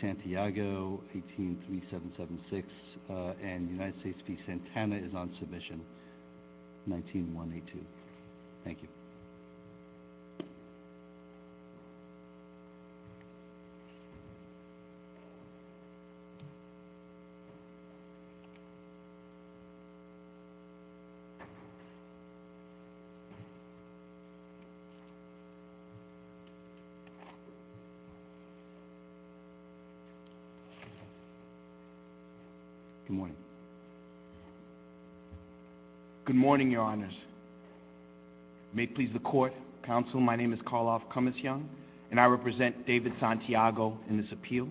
Santiago, 183776, and United States v. Santana is on submission, 19182. Thank you. Good morning. Good morning, Your Honors. May it please the Court, Counsel, my name is Karloff Cummings-Young, and I represent David Santiago in this appeal.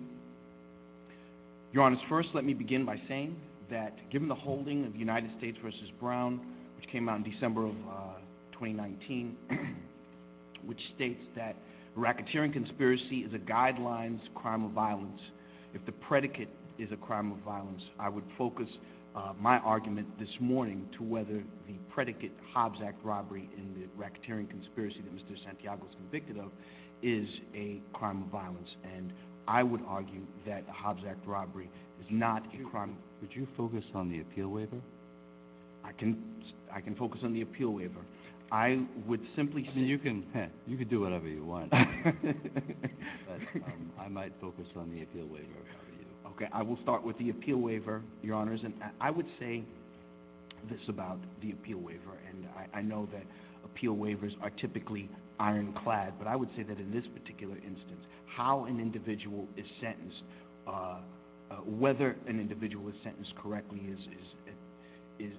Your Honors, first let me begin by saying that given the holding of United States v. Brown, which came out in guidelines crime of violence, if the predicate is a crime of violence, I would focus my argument this morning to whether the predicate Hobbs Act robbery in the racketeering conspiracy that Mr. Santiago was convicted of is a crime of violence, and I would argue that the Hobbs Act robbery is not a crime. Would you focus on the appeal waiver? I can focus on the appeal waiver, but I might focus on the appeal waiver. Okay, I will start with the appeal waiver, Your Honors, and I would say this about the appeal waiver, and I know that appeal waivers are typically ironclad, but I would say that in this particular instance, how an individual is sentenced, whether an individual is sentenced correctly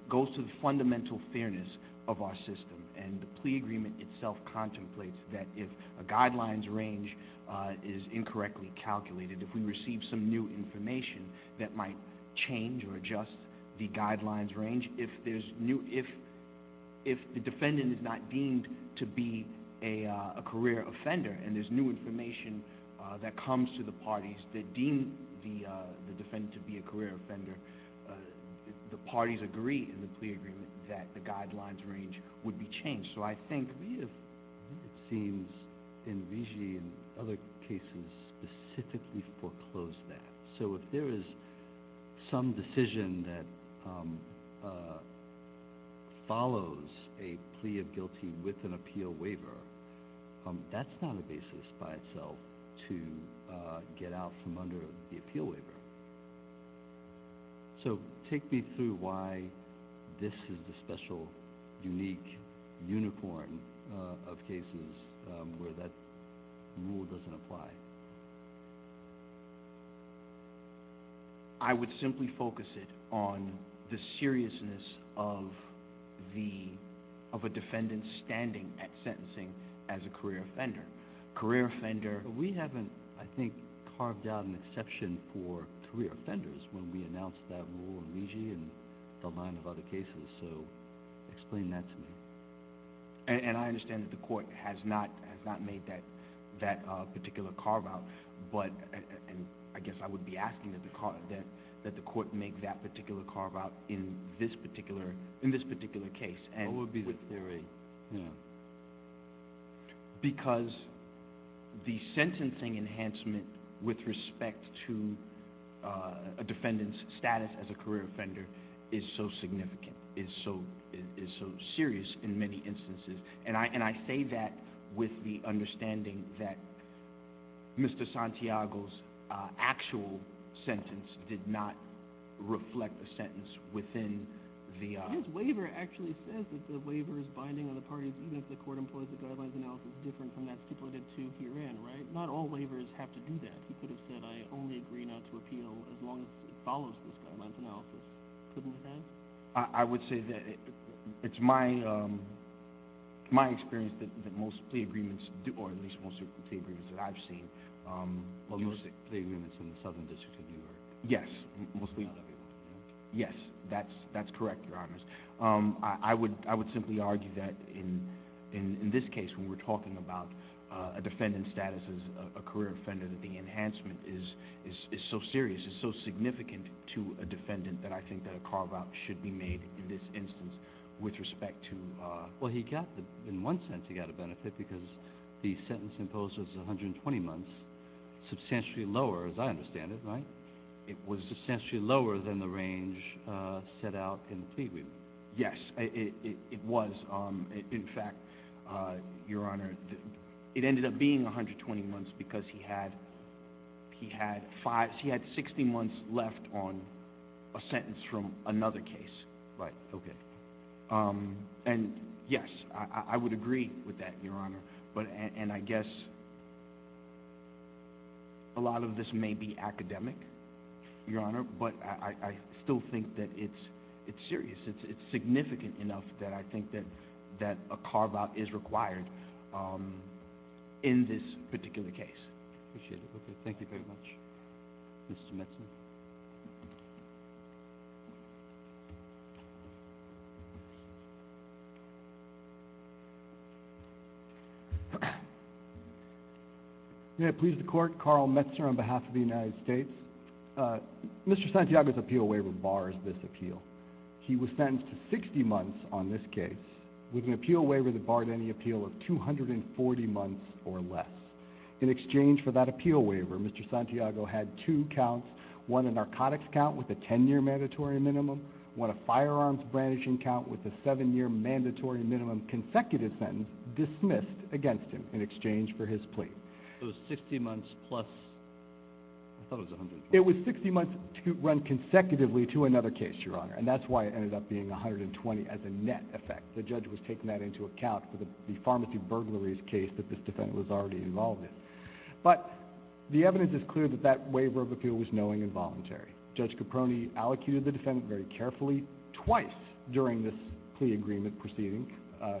goes to the fundamental fairness of our system, and the plea agreement itself contemplates that if a guidelines range is incorrectly calculated, if we receive some new information that might change or adjust the guidelines range, if the defendant is not deemed to be a career offender, and there's new information that comes to the parties that deem the defendant to be a career offender, the parties agree in the plea agreement that the guidelines range would be changed, so I think we have, it seems, in VIGI and other cases, specifically foreclosed that, so if there is some decision that follows a plea of guilty with an appeal waiver, that's not a basis by itself to get out from under the appeal waiver. So, take me through why this is the special, unique unicorn of cases where that rule doesn't apply. I would simply focus it on the seriousness of the, of a defendant's standing at sentencing as a career offender. Career offender, we haven't, I think, carved out an exception for career offenders when we announced that rule in VIGI and a line of other cases, so explain that to me. And I understand that the court has not made that particular carve out, but I guess I would be asking that the court make that particular carve out in this particular case. What would be the theory? Because the sentencing enhancement with respect to a defendant's status as a career offender is so significant, is so serious in many instances, and I say that with the understanding that Mr. Santiago's actual sentence did not reflect a sentence within the... His waiver actually says that the waiver is binding on the parties even if the court employs a guidelines analysis different from that stipulated to herein, right? Not all waivers have to do that. He could have said, I only agree not to appeal as long as it follows this guidelines analysis. Couldn't he have? I would say that it's my experience that most plea agreements, or at least most plea agreements that I've seen... Most plea agreements in the Southern District of New York? Yes, mostly. Not every one. Yes, that's correct, Your Honors. I would simply argue that in this case when we're talking about a defendant's status as a career offender that the enhancement is so serious, is so significant to a defendant that I think that a carve out should be made in this instance with respect to... Well, he got the... In one sense he got a benefit because the sentence imposed was 120 months, substantially lower as I understand it, right? It was substantially lower than the range set out in the plea agreement. Yes, it was. In fact, Your Honor, it ended up being 120 months because he had 60 months left on a sentence from another case. Right, okay. And yes, I would agree with that, Your Honor. And I guess a lot of this may be academic, Your Honor, but I still think that it's serious. It's significant enough that I think that a carve out is required in this particular case. Appreciate it. Okay, thank you very much, Mr. Metzner. May it please the Court, Carl Metzner on behalf of the United States. Mr. Santiago's appeal waiver bars this appeal. He was sentenced to 60 months on this case with an appeal waiver that barred any appeal of 240 months or less. In exchange for that appeal waiver, Mr. Santiago had two counts. One, a narcotics count with a 10-year mandatory minimum. One, a firearms brandishing count with a 7-year mandatory minimum consecutive sentence dismissed against him in exchange for his plea. So it was 60 months plus... I thought it was 120. It was 60 months run consecutively to another case, Your Honor, and that's why it ended up being 120 as a net effect. The judge was taking that into account for the pharmacy burglaries case that this defendant was already involved in. But the evidence is clear that that waiver of appeal was knowing and voluntary. Judge Caproni allocated the defendant very carefully twice during this plea agreement proceeding,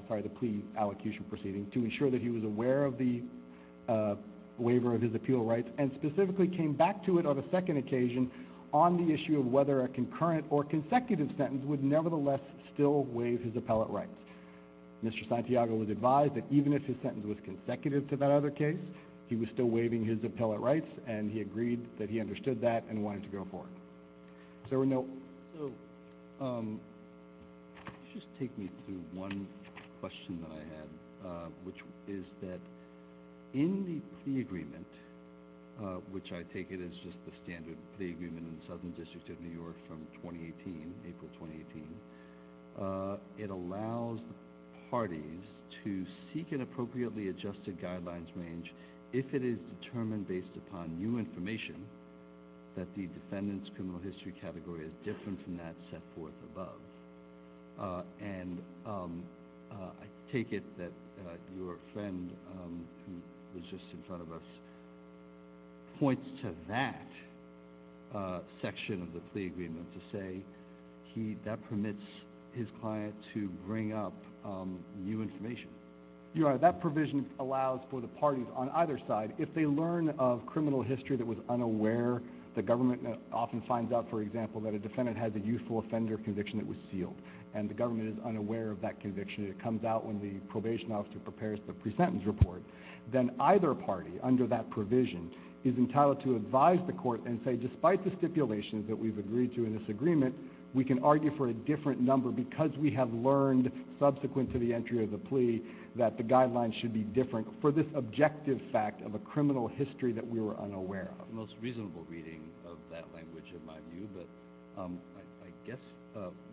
sorry, the plea allocation proceeding, to ensure that he was aware of the waiver of his appeal rights and specifically came back to it on a second occasion on the issue of whether a concurrent or consecutive sentence would nevertheless still waive his appellate rights. Mr. Santiago was advised that even if his sentence was consecutive to that other case, he was still waiving his appellate rights, and he agreed that he understood that and wanted to go for it. Is there a note? Just take me through one question that I had, which is that in the plea agreement, which I take it is just the standard plea agreement in the Southern District of New York from 2018, April 2018, it allows parties to seek an appropriately adjusted guidelines range if it is determined based upon new information that the defendant's criminal history category is different from that set forth above. And I take it that your friend, who was just in front of us, points to that section of the plea agreement to say that permits his client to bring up new information. Your Honor, that provision allows for the parties on either side, if they learn of criminal history that was unaware, the government often finds out, for example, that a defendant has a youthful offender conviction that was sealed, and the government is unaware of that conviction, and it comes out when the probation officer prepares the pre-sentence report, then either party under that provision is entitled to advise the court and say, despite the stipulations that we've agreed to in this agreement, we can argue for a different number because we have learned subsequent to the entry of the plea that the guidelines should be different for this objective fact of a criminal history that we were unaware of. That's the most reasonable reading of that language in my view, but I guess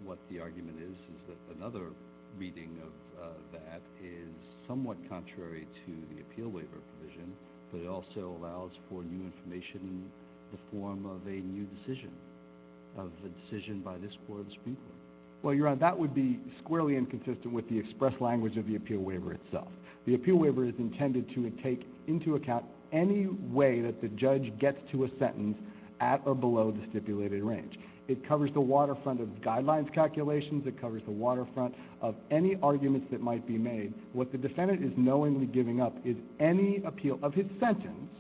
what the argument is is that another reading of that is somewhat contrary to the appeal waiver provision, but it also allows for new information in the form of a new decision, of a decision by this court of speech. Well, Your Honor, that would be squarely inconsistent with the express language of the appeal waiver itself. The appeal waiver is intended to take into account any way that the judge gets to a sentence at or below the stipulated range. It covers the waterfront of guidelines calculations. It covers the waterfront of any arguments that might be made. What the defendant is knowingly giving up is any appeal of his sentence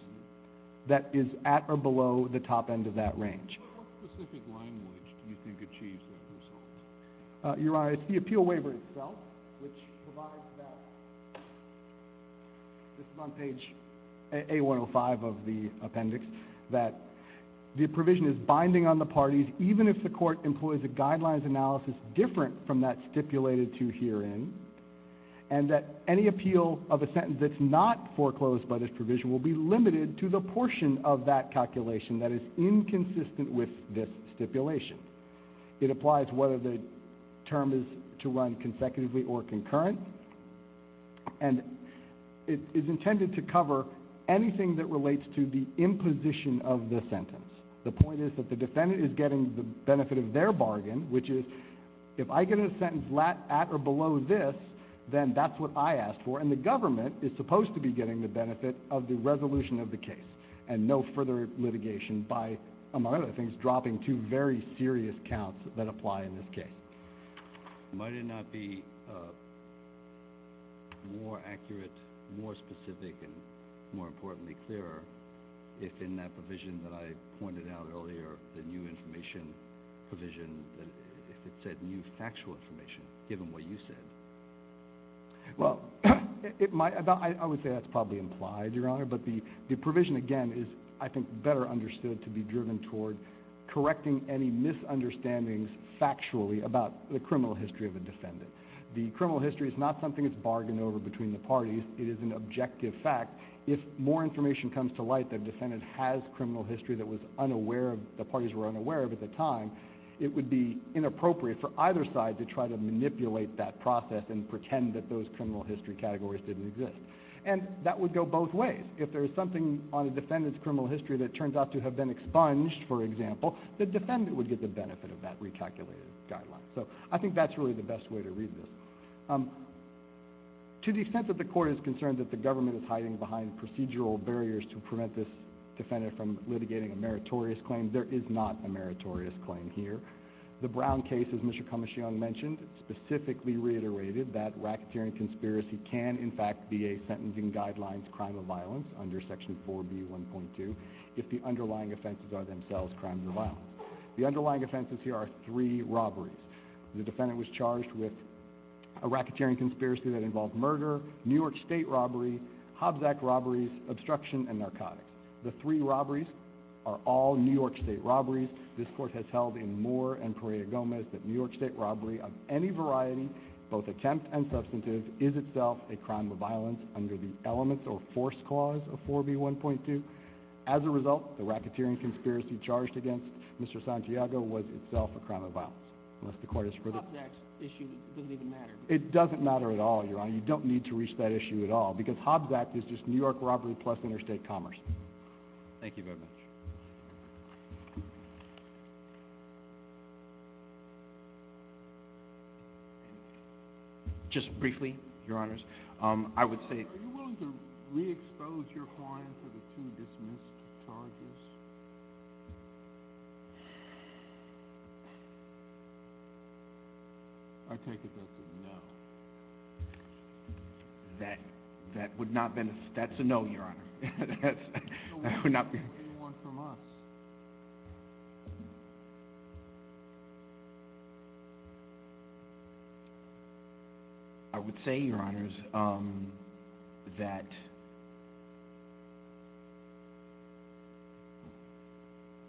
that is at or below the top end of that range. What specific language do you think achieves that result? Your Honor, it's the appeal waiver itself which provides that, this is on page A-105 of the appendix, that the provision is binding on the parties even if the court employs a guidelines analysis different from that stipulated to herein, and that any appeal of a sentence that's not foreclosed by this provision will be limited to the portion of that calculation that is inconsistent with this stipulation. It applies whether the term is to run consecutively or concurrent, and it is intended to cover anything that relates to the imposition of the sentence. The point is that the defendant is getting the benefit of their bargain, which is if I get a sentence at or below this, then that's what I ask for, and the government is supposed to be getting the benefit of the resolution of the case and no further litigation by, among other things, dropping two very serious counts that apply in this case. Might it not be more accurate, more specific, and more importantly clearer if in that provision that I pointed out earlier, the new information provision, if it said new factual information given what you said? Well, I would say that's probably implied, Your Honor, but the provision, again, is I think better understood to be driven toward correcting any misunderstandings factually about the criminal history of a defendant. The criminal history is not something that's bargained over between the parties. It is an objective fact. If more information comes to light that a defendant has criminal history that the parties were unaware of at the time, it would be inappropriate for either side to try to manipulate that process and pretend that those criminal history categories didn't exist. And that would go both ways. If there is something on a defendant's criminal history that turns out to have been expunged, for example, the defendant would get the benefit of that recalculated guideline. So I think that's really the best way to read this. To the extent that the court is concerned that the government is hiding behind procedural barriers to prevent this defendant from litigating a meritorious claim, there is not a meritorious claim here. The Brown case, as Mr. Kamishiong mentioned, specifically reiterated that racketeering conspiracy can, in fact, be a sentencing guideline to crime of violence under Section 4B1.2 if the underlying offenses are themselves crimes of violence. The underlying offenses here are three robberies. The defendant was charged with a racketeering conspiracy that involved murder, New York State robbery, Hobbs Act robberies, obstruction, and narcotics. The three robberies are all New York State robberies. This Court has held in Moore and Pereira-Gomez that New York State robbery of any variety, both attempt and substantive, is itself a crime of violence under the elements or force clause of 4B1.2. As a result, the racketeering conspiracy charged against Mr. Santiago was itself a crime of violence. Unless the Court has further— Hobbs Act issue doesn't even matter. It doesn't matter at all, Your Honor. You don't need to reach that issue at all because Hobbs Act is just New York robbery plus interstate commerce. Thank you very much. Just briefly, Your Honors, I would say— Are you willing to re-expose your client to the two dismissed charges? I take it that's a no. That would not benefit—that's a no, Your Honor. That would not benefit anyone from us. I would say, Your Honors, that—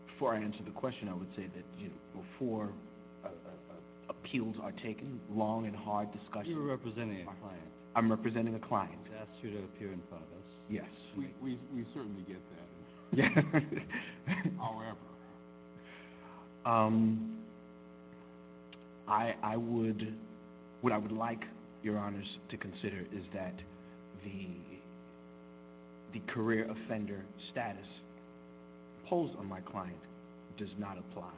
before I answer the question, I would say that before appeals are taken, long and hard discussions— You're representing a client. I'm representing a client. We've asked you to appear in front of us. Yes. We certainly get that. However, I would—what I would like, Your Honors, to consider is that the career offender status imposed on my client does not apply.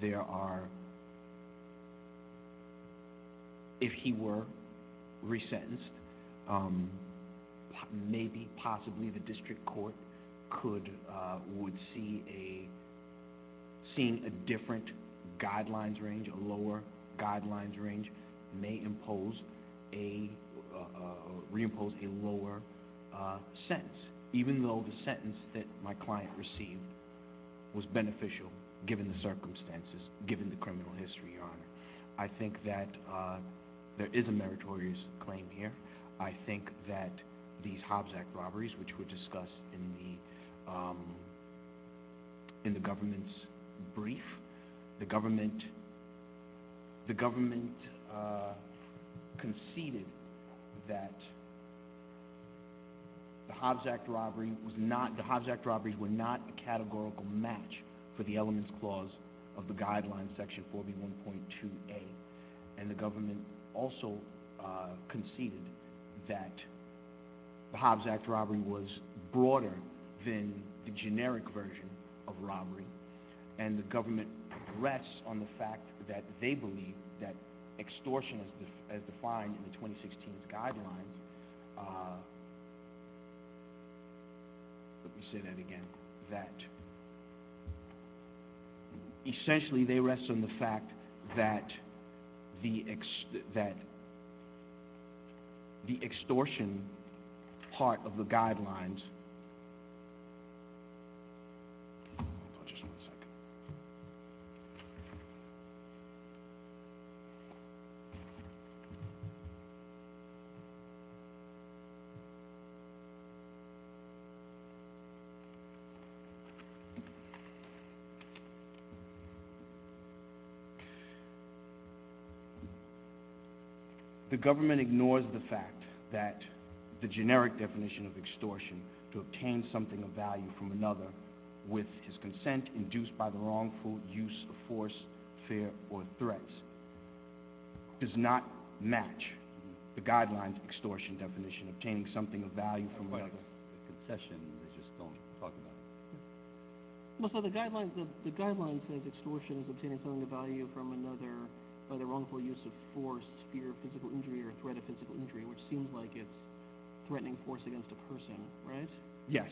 There are—if he were resentenced, maybe, possibly, the district court could—would see a— seeing a different guidelines range, a lower guidelines range may impose a—reimpose a lower sentence, even though the sentence that my client received was beneficial, given the circumstances, given the criminal history, Your Honor. I think that there is a meritorious claim here. I think that these Hobbs Act robberies, which were discussed in the—in the government's brief, the government conceded that the Hobbs Act robbery was not— the Hobbs Act robberies were not a categorical match for the elements clause of the guidelines, Section 4B1.2a. And the government also conceded that the Hobbs Act robbery was broader than the generic version of robbery. And the government rests on the fact that they believe that extortion as defined in the 2016 guidelines—let me say that again— essentially they rest on the fact that the—that the extortion part of the guidelines— The government ignores the fact that the generic definition of extortion, to obtain something of value from another with his consent, induced by the wrongful use of force, fear, or threats, does not match the guidelines extortion definition, obtaining something of value from— the concession, they just don't talk about it. Well, so the guidelines—the guidelines says extortion is obtaining something of value from another by the wrongful use of force, fear of physical injury, or threat of physical injury, which seems like it's threatening force against a person, right? Yes.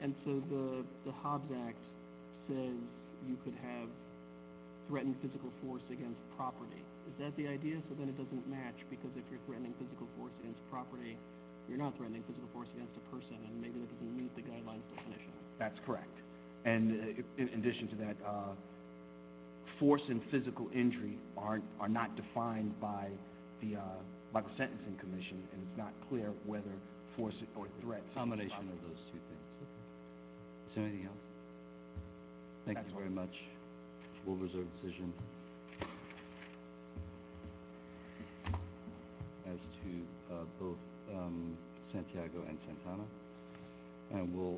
And so the Hobbs Act says you could have threatened physical force against property. Is that the idea? So then it doesn't match, because if you're threatening physical force against property, you're not threatening physical force against a person, and maybe that doesn't meet the guidelines definition. That's correct. And in addition to that, force and physical injury are not defined by the Sentencing Commission, and it's not clear whether force or threat is a combination of those two things. Is there anything else? Thank you very much. We'll reserve the decision. As to both Santiago and Santana.